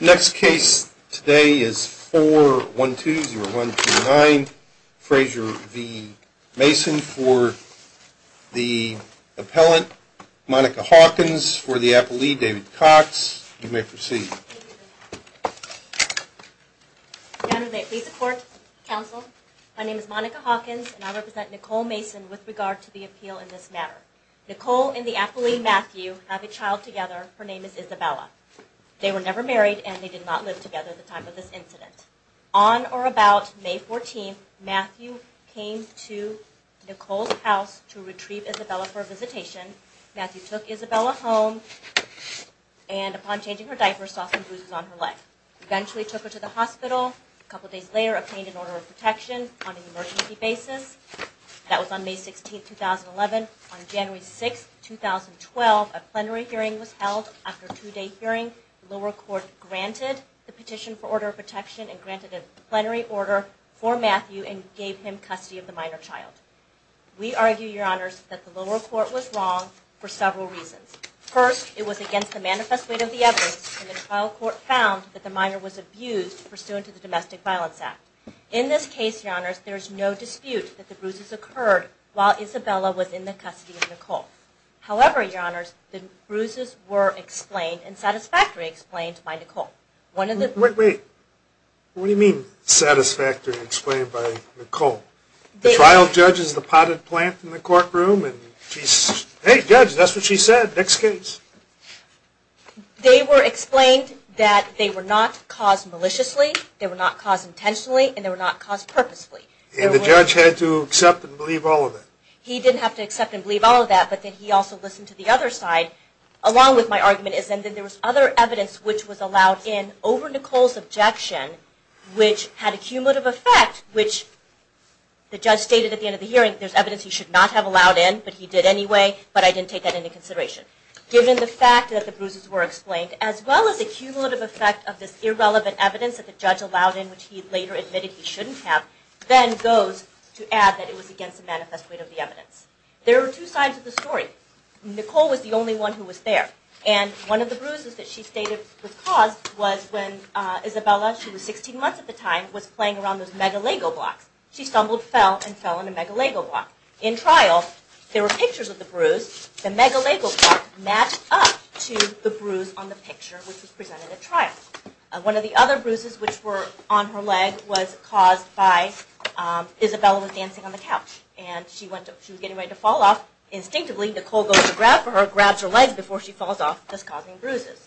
Next case today is 4120129, Fraysure v. Mason for the appellant, Monica Hawkins for the appellee, David Cox. You may proceed. Madam Deputy Court Counsel, my name is Monica Hawkins and I represent Nicole Mason with regard to the appeal in this matter. Nicole and the appellee, Matthew, have a child together. Her name is Isabella. They were never married and they did not live together at the time of this incident. On or about May 14, Matthew came to Nicole's house to retrieve Isabella for a visitation. Matthew took Isabella home and upon changing her diapers, saw some bruises on her leg. Eventually took her to the hospital. A couple days later, obtained an order of protection on an emergency basis. That was on May 16, 2011. On January 6, 2012, a plenary hearing was held. After a two-day hearing, the lower court granted the petition for order of protection and granted a plenary order for Matthew and gave him custody of the minor child. We argue, Your Honors, that the lower court was wrong for several reasons. First, it was against the manifest weight of the evidence and the trial court found that the minor was abused pursuant to the Domestic Violence Act. In this case, Your Honors, there is no dispute that the bruises occurred while Isabella was in the custody of Nicole. However, Your Honors, the bruises were explained and satisfactorily explained by Nicole. One of the... Wait, wait. What do you mean satisfactorily explained by Nicole? The trial judge is the potted plant in the courtroom and she's, hey judge, that's what she said. Next case. They were explained that they were not caused maliciously, they were not caused intentionally, and they were not caused purposely. And the judge had to accept and believe all of that. He didn't have to accept and believe all of that, but then he also listened to the other side, along with my argument is that there was other evidence which was allowed in over Nicole's objection, which had a cumulative effect, which the judge stated at the end of the hearing, there's evidence he should not have allowed in, but he did anyway, but I didn't take that into consideration. Given the fact that the bruises were explained, as well as the cumulative effect of this irrelevant evidence that the evidence. There are two sides of the story. Nicole was the only one who was there. And one of the bruises that she stated was caused was when Isabella, she was 16 months at the time, was playing around with Mega Lego blocks. She stumbled, fell, and fell on a Mega Lego block. In trial, there were pictures of the bruise, the Mega Lego block matched up to the bruise on the picture which was presented at trial. One of the other bruises which were on her leg was caused by Isabella was dancing on the couch and she was getting ready to fall off. Instinctively, Nicole goes to grab for her, grabs her leg before she falls off, thus causing bruises.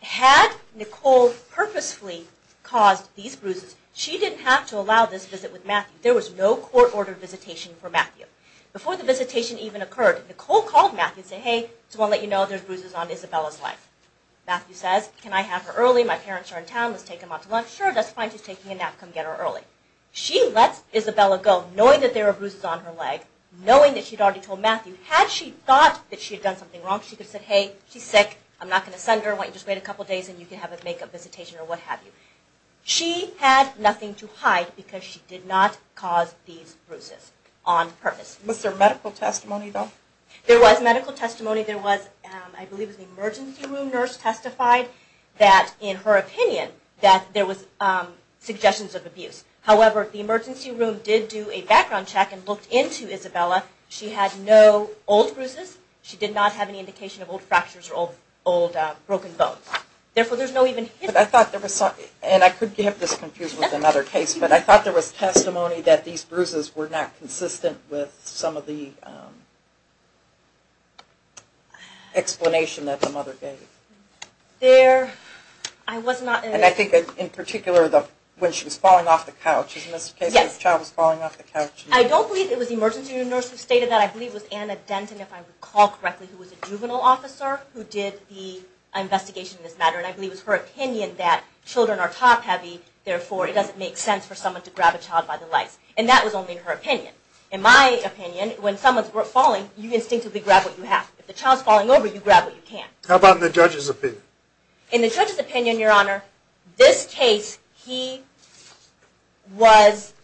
Had Nicole purposefully caused these bruises, she didn't have to allow this visit with Matthew. There was no court-ordered visitation for Matthew. Before the visitation even occurred, Nicole called Matthew and said, hey, just want to let you know there's bruises on Isabella's leg. Matthew says, can I have her early? My parents are in town. Let's take them out to lunch. Sure, that's fine. She's taking a nap. Come get her early. She lets Isabella go knowing that there are bruises on her leg, knowing that she had already told Matthew. Had she thought that she had done something wrong, she could have said, hey, she's sick. I'm not going to send her. Why don't you just wait a couple of days and you can have a make-up visitation or what have you. She had nothing to hide because she did not cause these bruises on purpose. Was there medical testimony, though? There was medical testimony. There was, I believe, an emergency room nurse testified that, in her opinion, that there was suggestions of abuse. However, the emergency room did do a background check and looked into Isabella. She had no old bruises. She did not have any indication of old fractures or old broken bones. Therefore, there's no even history. I thought there was, and I could get this confused with another case, but I thought there was testimony that these bruises were not consistent with some of the explanation that the mother gave. There, I was not... And I think, in particular, when she was falling off the couch, isn't this the case? The child was falling off the couch. I don't believe it was the emergency room nurse who stated that. I believe it was Anna Denton, if I recall correctly, who was a juvenile officer who did the investigation in this matter. And I believe it was her opinion that children are top-heavy, therefore, it doesn't make sense for someone to grab a child by the legs. And that was only her opinion. In my opinion, when someone's falling, you instinctively grab what you have. If the child's falling over, you grab what you can't. How about in the judge's opinion? In the judge's opinion, Your Honor, this case, he was...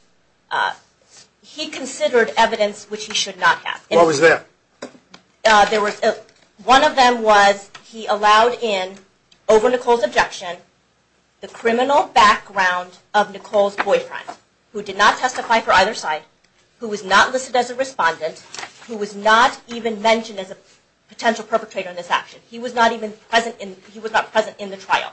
He considered evidence which he should not have. What was that? One of them was he allowed in, over Nicole's objection, the criminal background of Nicole's boyfriend, who did not testify for either side, who was not listed as a respondent, who was not even mentioned as a potential perpetrator in this action. He was not present in the trial.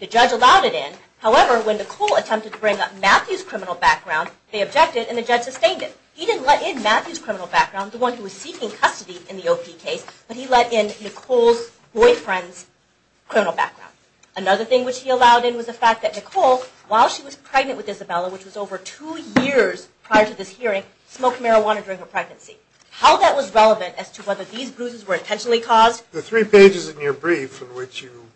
The judge allowed it in. However, when Nicole attempted to bring up Matthew's criminal background, they objected and the judge sustained it. He didn't let in Matthew's criminal background, the one who was seeking custody in the OP case, but he let in Nicole's boyfriend's criminal background. Another thing which he allowed in was the fact that Nicole, while she was pregnant with How that was relevant as to whether these bruises were intentionally caused... The three pages in your brief in which you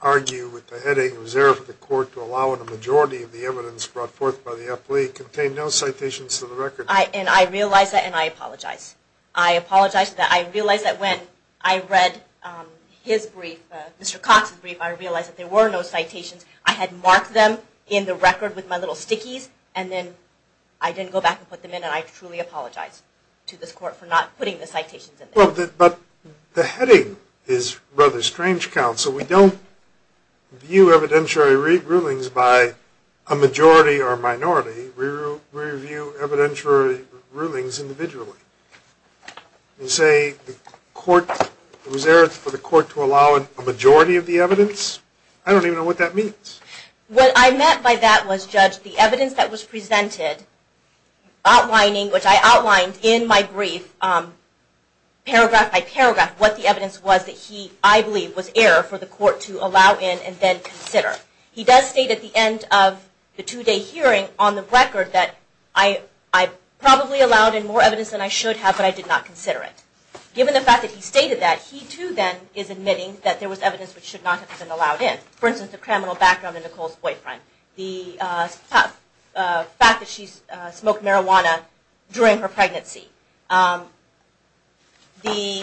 argue with the headache and reserve of the court to allow in a majority of the evidence brought forth by the appellee contained no citations to the record. And I realize that and I apologize. I apologize that I realized that when I read his brief, Mr. Cox's brief, I realized that there were no citations. I had marked them in the record with my little stickies and then I didn't go back and put them in and I truly apologize. To this court for not putting the citations in there. But the heading is rather strange, Counsel. We don't view evidentiary rulings by a majority or minority. We review evidentiary rulings individually. You say the court, reserve for the court to allow a majority of the evidence. I don't even know what that means. What I meant by that was, Judge, the evidence that was presented, outlining, which I outlined in my brief, paragraph by paragraph, what the evidence was that he, I believe, was error for the court to allow in and then consider. He does state at the end of the two-day hearing on the record that I probably allowed in more evidence than I should have, but I did not consider it. Given the fact that he stated that, he too then is admitting that there was evidence which should not have been allowed in. For instance, the criminal background of Nicole's boyfriend. The fact that she smoked marijuana during her pregnancy. The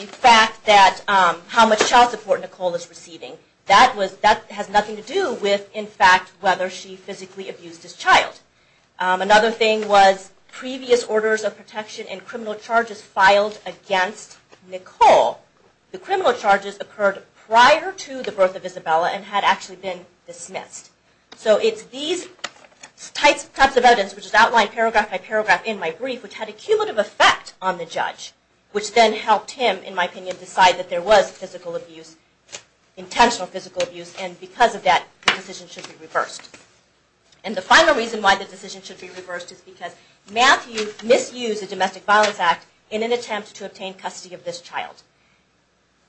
fact that how much child support Nicole is receiving. That has nothing to do with, in fact, whether she physically abused his child. Another thing was previous orders of protection and criminal charges filed against Nicole. The criminal charges occurred prior to the birth of Isabella and had actually been dismissed. So it's these types of evidence, which is outlined paragraph by paragraph in my brief, which had a cumulative effect on the judge, which then helped him, in my opinion, decide that there was physical abuse, intentional physical abuse, and because of that, the decision should be reversed. And the final reason why the decision should be reversed is because Matthew misused the Domestic Violence Act in an attempt to obtain custody of this child.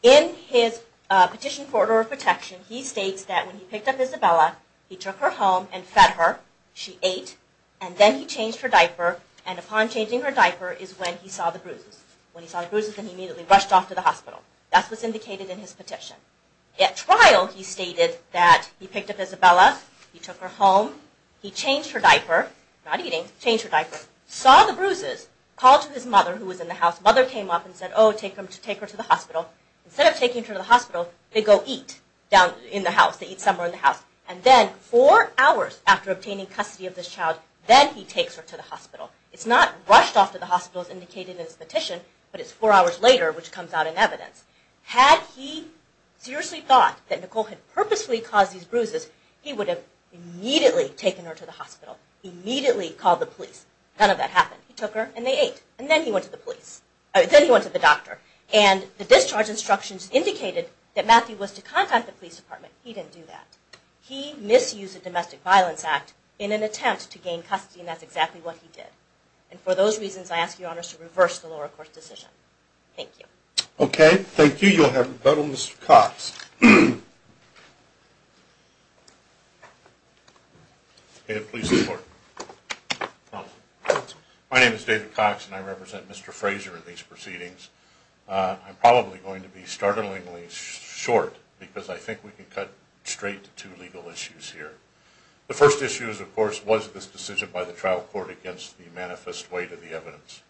In his petition for order of protection, he states that when he picked up Isabella, he took her home and fed her, she ate, and then he changed her diaper, and upon changing her diaper is when he saw the bruises. When he saw the bruises, then he immediately rushed off to the hospital. That's what's indicated in his petition. At trial, he stated that he picked up Isabella, he took her home, he changed her diaper, not eating, changed her diaper, saw the bruises, called to his mother who was in the house. Mother came up and said, oh, take her to the hospital. Instead of taking her to the hospital, they go eat in the house. They eat somewhere in the house. And then four hours after obtaining custody of this child, then he takes her to the hospital. It's not rushed off to the hospital as indicated in his petition, but it's four hours later which comes out in evidence. Had he seriously thought that Nicole had purposely caused these bruises, he would have immediately None of that happened. He took her and they ate. And then he went to the doctor. And the discharge instructions indicated that Matthew was to contact the police department. He didn't do that. He misused the Domestic Violence Act in an attempt to gain custody, and that's exactly what he did. And for those reasons, I ask your honors to reverse the lower court's decision. Thank you. Okay. Thank you. You'll have rebuttal, Mr. Cox. May it please the court. My name is David Cox and I represent Mr. Fraser in these proceedings. I'm probably going to be startlingly short because I think we can cut straight to two legal issues here. The first issue is, of course, was this decision by the trial court against the manifest weight of the evidence.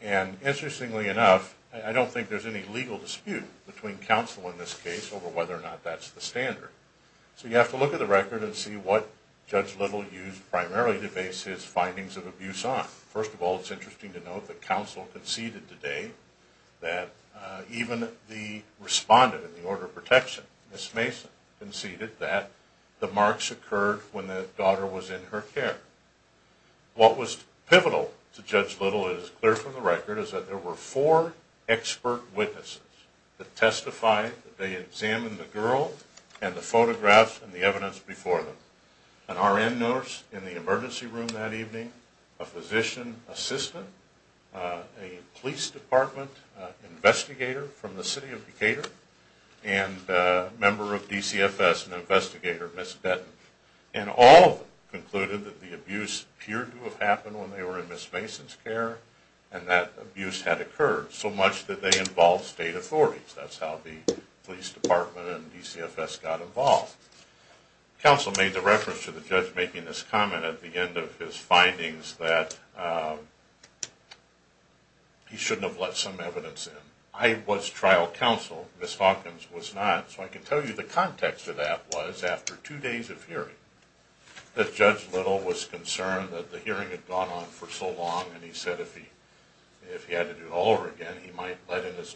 And interestingly enough, I don't think there's any legal dispute between counsel in this case over whether or not that's the standard. So you have to look at the record and see what Judge Little used primarily to base his findings of abuse on. First of all, it's interesting to note that counsel conceded today that even the respondent in the order of protection, Ms. Mason, conceded that the marks occurred when the daughter was in her care. What was pivotal to Judge Little, it is clear from the record, is that there were four expert witnesses that testified that they examined the girl and the photographs and the evidence before them. An RN nurse in the emergency room that evening, a physician assistant, a police department investigator from the city of Decatur, and a member of DCFS, an investigator, Ms. Benton. And all of them concluded that the abuse appeared to have happened when they were in Ms. Mason's care and that abuse had occurred. So much that they involved state authorities. That's how the police department and DCFS got involved. Counsel made the reference to the judge making this comment at the end of his findings that he shouldn't have let some evidence in. I was trial counsel. Ms. Hawkins was not. So I can tell you the context of that was after two days of hearing that Judge Little was concerned that the hearing had gone on for so long and he said if he had to do it all over again he might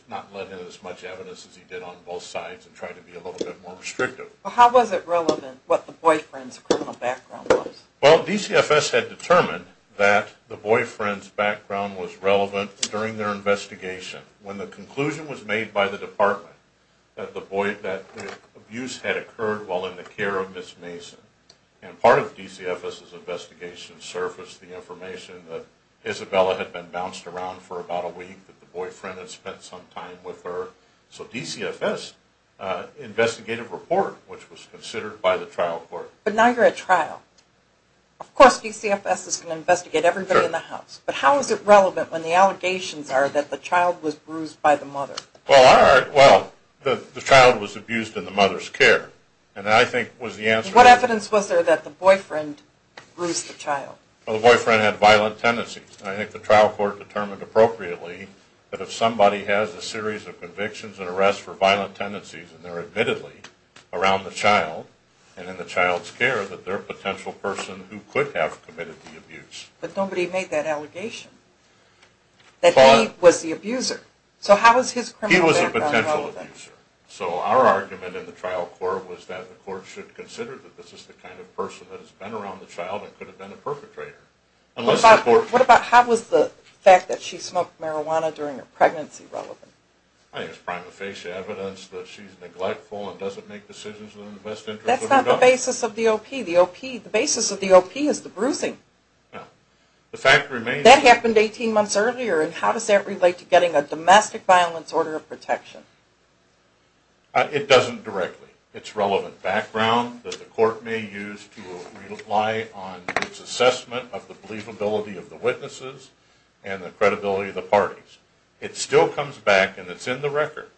not let in as much evidence as he did on both sides and try to be a little bit more restrictive. How was it relevant what the boyfriend's criminal background was? Well DCFS had determined that the boyfriend's background was relevant during their investigation. When the conclusion was made by the department that the abuse had occurred while in the care of Ms. Mason. And part of DCFS's investigation surfaced the information that Isabella had been bounced around for about a week. That the boyfriend had spent some time with her. So DCFS investigated a report which was considered by the trial court. But now you're at trial. Of course DCFS is going to investigate everybody in the house. But how is it relevant when the allegations are that the child was bruised by the mother? Well the child was abused in the mother's care and I think was the answer. What evidence was there that the boyfriend bruised the child? Well the boyfriend had violent tendencies. I think the trial court determined appropriately that if somebody has a series of convictions and arrests for violent tendencies and they're admittedly around the child and in the child's care that they're a potential person who could have committed the abuse. But nobody made that allegation. That he was the abuser. So how is his criminal background relevant? He was a potential abuser. So our argument in the trial court was that the court should consider that this is the kind of person that has been around the child and could have been a perpetrator. What about how was the fact that she smoked marijuana during her pregnancy relevant? I think it's prima facie evidence that she's neglectful and doesn't make decisions in the best interest of her daughter. That's not the basis of the OP. The basis of the OP is the bruising. That happened 18 months earlier and how does that relate to getting a domestic violence order of protection? It doesn't directly. It's relevant background that the court may use to rely on its assessment of the believability of the witnesses and the credibility of the parties. It still comes back and it's in the record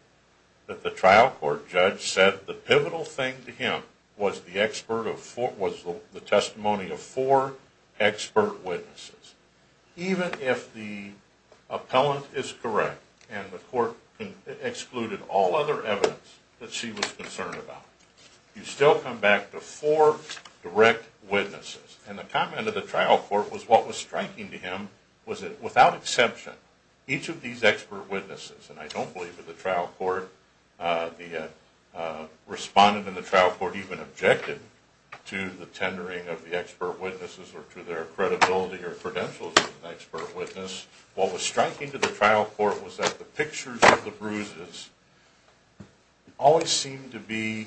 that the trial court judge said the pivotal thing to him was the testimony of four expert witnesses. Even if the appellant is correct and the court excluded all other evidence that she was concerned about, you still come back to four direct witnesses. And the comment of the trial court was what was striking to him was that without exception, each of these expert witnesses, and I don't believe that the trial court, the respondent in the trial court even objected to the tendering of the expert witnesses or to their credibility or credentials as an expert witness. What was striking to the trial court was that the pictures of the bruises always seemed to be,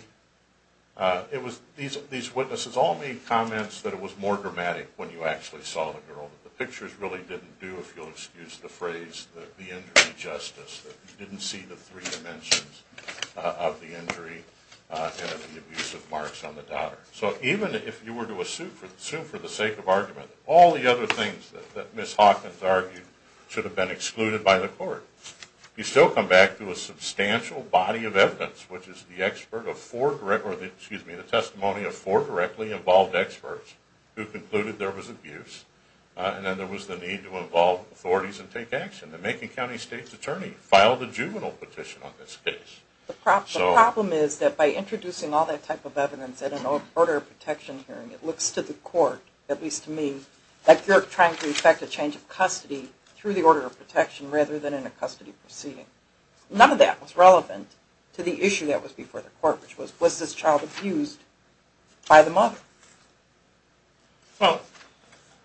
these witnesses all made comments that it was more dramatic when you actually saw the girl. The pictures really didn't do, if you'll excuse the phrase, the injury justice. That you didn't see the three dimensions of the injury and of the abusive marks on the daughter. So even if you were to assume for the sake of argument that all the other things that Ms. Hawkins argued should have been excluded by the court, you still come back to a substantial body of evidence which is the testimony of four directly involved experts who concluded there was abuse and then there was the need to involve authorities and take action. The Macon County State's Attorney filed a juvenile petition on this case. The problem is that by introducing all that type of evidence at an order of protection hearing, it looks to the court, at least to me, that you're trying to effect a change of custody through the order of protection rather than in a custody proceeding. None of that was relevant to the issue that was before the court which was, was this child abused by the mother? Well,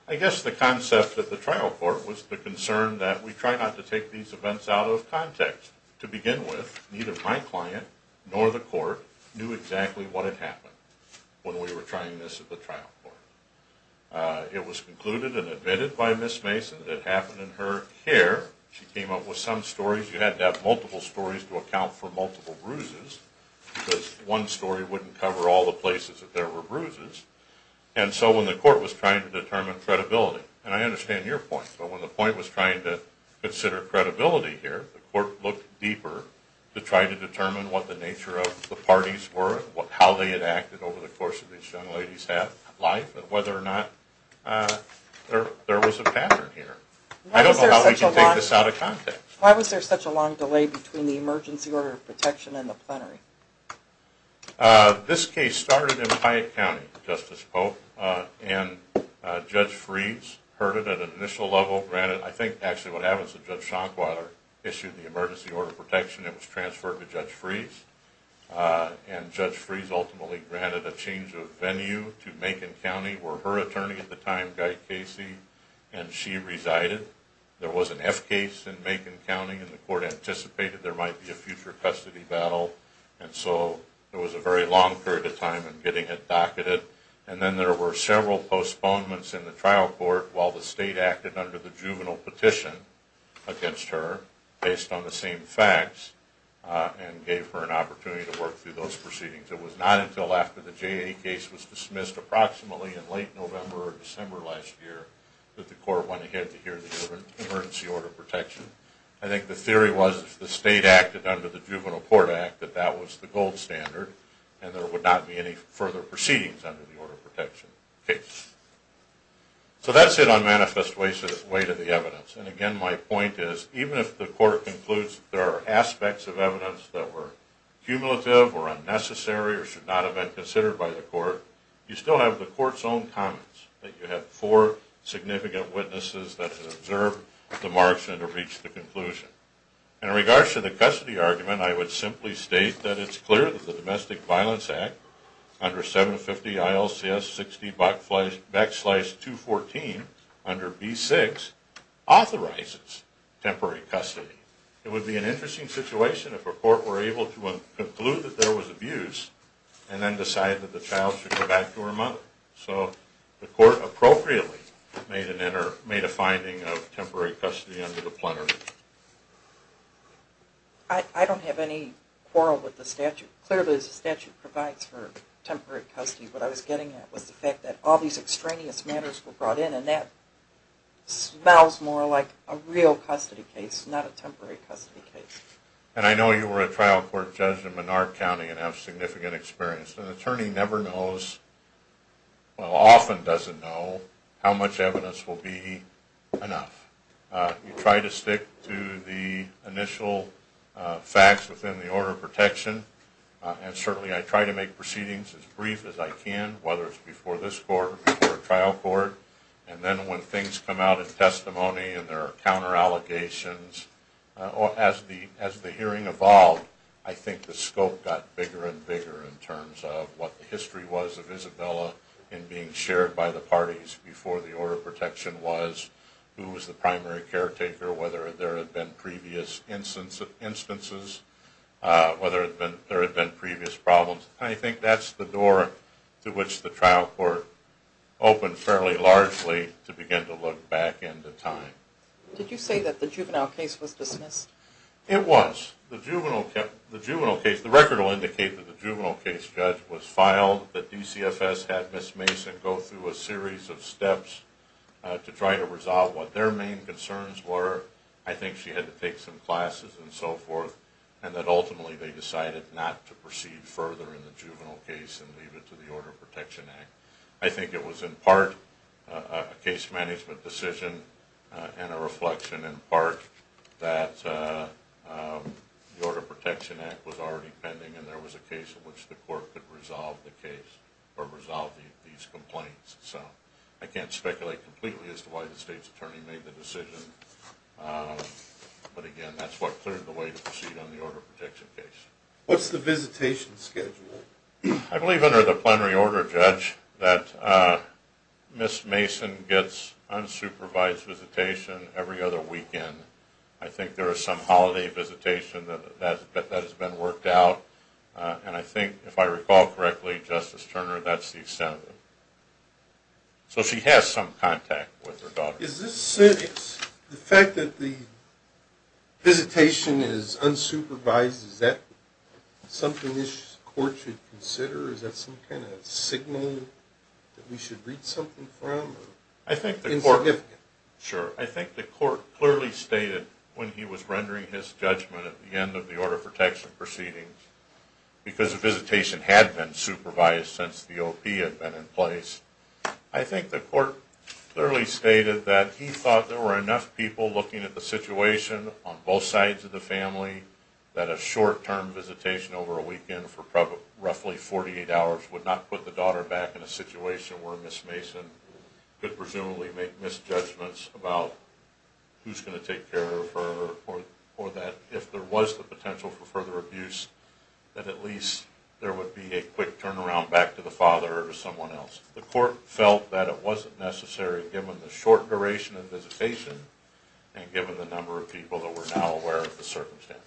I guess the concept of the trial court was the concern that we try not to take these cases to the trial court because neither my client nor the court knew exactly what had happened when we were trying this at the trial court. It was concluded and admitted by Ms. Mason that it happened in her care. She came up with some stories. You had to have multiple stories to account for multiple bruises because one story wouldn't cover all the places that there were bruises. And so when the court was trying to determine credibility, and I understand your point, but when the point was trying to consider credibility here, the court looked deeper to try to determine what the nature of the parties were, how they had acted over the course of these young ladies' life, and whether or not there was a pattern here. I don't know how we can take this out of context. Why was there such a long delay between the emergency order of protection and the plenary? This case started in Piatt County, Justice Pope, and Judge Freed's heard it at an initial level. Granted, I think actually what happens is Judge Schanquiler issued the emergency order of protection. It was transferred to Judge Freed's, and Judge Freed's ultimately granted a change of venue to Macon County, where her attorney at the time, Guy Casey, and she resided. There was an F case in Macon County, and the court anticipated there might be a future custody battle, and so it was a very long period of time in getting it docketed. And then there were several postponements in the trial court while the state acted under the juvenile petition against her, based on the same facts, and gave her an opportunity to work through those proceedings. It was not until after the JA case was dismissed approximately in late November or December last year that the court went ahead to hear the emergency order of protection. I think the theory was if the state acted under the juvenile court act that that was the gold standard, and there would not be any further proceedings under the order of protection case. So that's it on manifest way to the evidence, and again my point is even if the court concludes there are aspects of evidence that were cumulative or unnecessary or should not have been considered by the court, you still have the court's own comments, that you have four significant witnesses that have observed the marks and have reached a conclusion. In regards to the custody argument, I would simply state that it's clear that the Domestic Violence Act, backslide 214 under B6, authorizes temporary custody. It would be an interesting situation if a court were able to conclude that there was abuse and then decide that the child should go back to her mother. So the court appropriately made a finding of temporary custody under the plenary. I don't have any quarrel with the statute. Clearly the statute provides for temporary custody. What I was getting at was the fact that all these extraneous matters were brought in and that smells more like a real custody case, not a temporary custody case. And I know you were a trial court judge in Menard County and have significant experience. An attorney never knows, well often doesn't know, how much evidence will be enough. You try to stick to the initial facts within the order of protection, and certainly I try to make proceedings as brief as I can, whether it's before this court or before a trial court. And then when things come out in testimony and there are counter-allegations, as the hearing evolved, I think the scope got bigger and bigger in terms of what the history was of Isabella in being shared by the parties before the order of protection was, who was the primary caretaker, whether there had been previous instances, whether there had been previous problems. I think that's the door to which the trial court opened fairly largely to begin to look back into time. Did you say that the juvenile case was dismissed? It was. The record will indicate that the juvenile case judge was filed, that DCFS had Ms. Mason go through a series of steps to try to resolve what their main concerns were. I think she had to take some classes and so forth, and that ultimately they decided not to proceed further in the juvenile case and leave it to the Order of Protection Act. I think it was in part a case management decision and a reflection in part that the Order of Protection Act was already pending and there was a case in which the court could resolve the case or resolve these complaints. So I can't speculate completely as to why the state's attorney made the decision, but again, that's what cleared the way to proceed on the order of protection case. What's the visitation schedule? I believe under the plenary order, Judge, that Ms. Mason gets unsupervised visitation every other weekend. I think there is some holiday visitation that has been worked out, and I think, if I recall correctly, Justice Turner, that's the extended. So she has some contact with her daughter. Is the fact that the visitation is unsupervised, is that something the court should consider? Is that some kind of signal that we should read something from? I think the court clearly stated when he was rendering his judgment at the end of the order of protection proceedings, because the visitation had been supervised since the OP had been in place, I think the court clearly stated that he thought there were enough people looking at the situation on both sides of the family that a short-term visitation over a weekend for roughly 48 hours would not put the daughter back in a situation where Ms. Mason could presumably make misjudgments about who's going to take care of her or that if there was the potential for further abuse, that at least there would be a quick turnaround back to the father or to someone else. The court felt that it wasn't necessary given the short duration of the visitation and given the number of people that were now aware of the circumstances.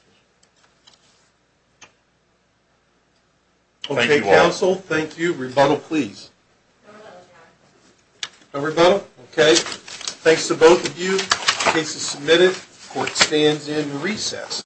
Okay, counsel. Thank you. Rebuttal, please. No rebuttal? Okay. Thanks to both of you. Case is submitted. Court stands in recess.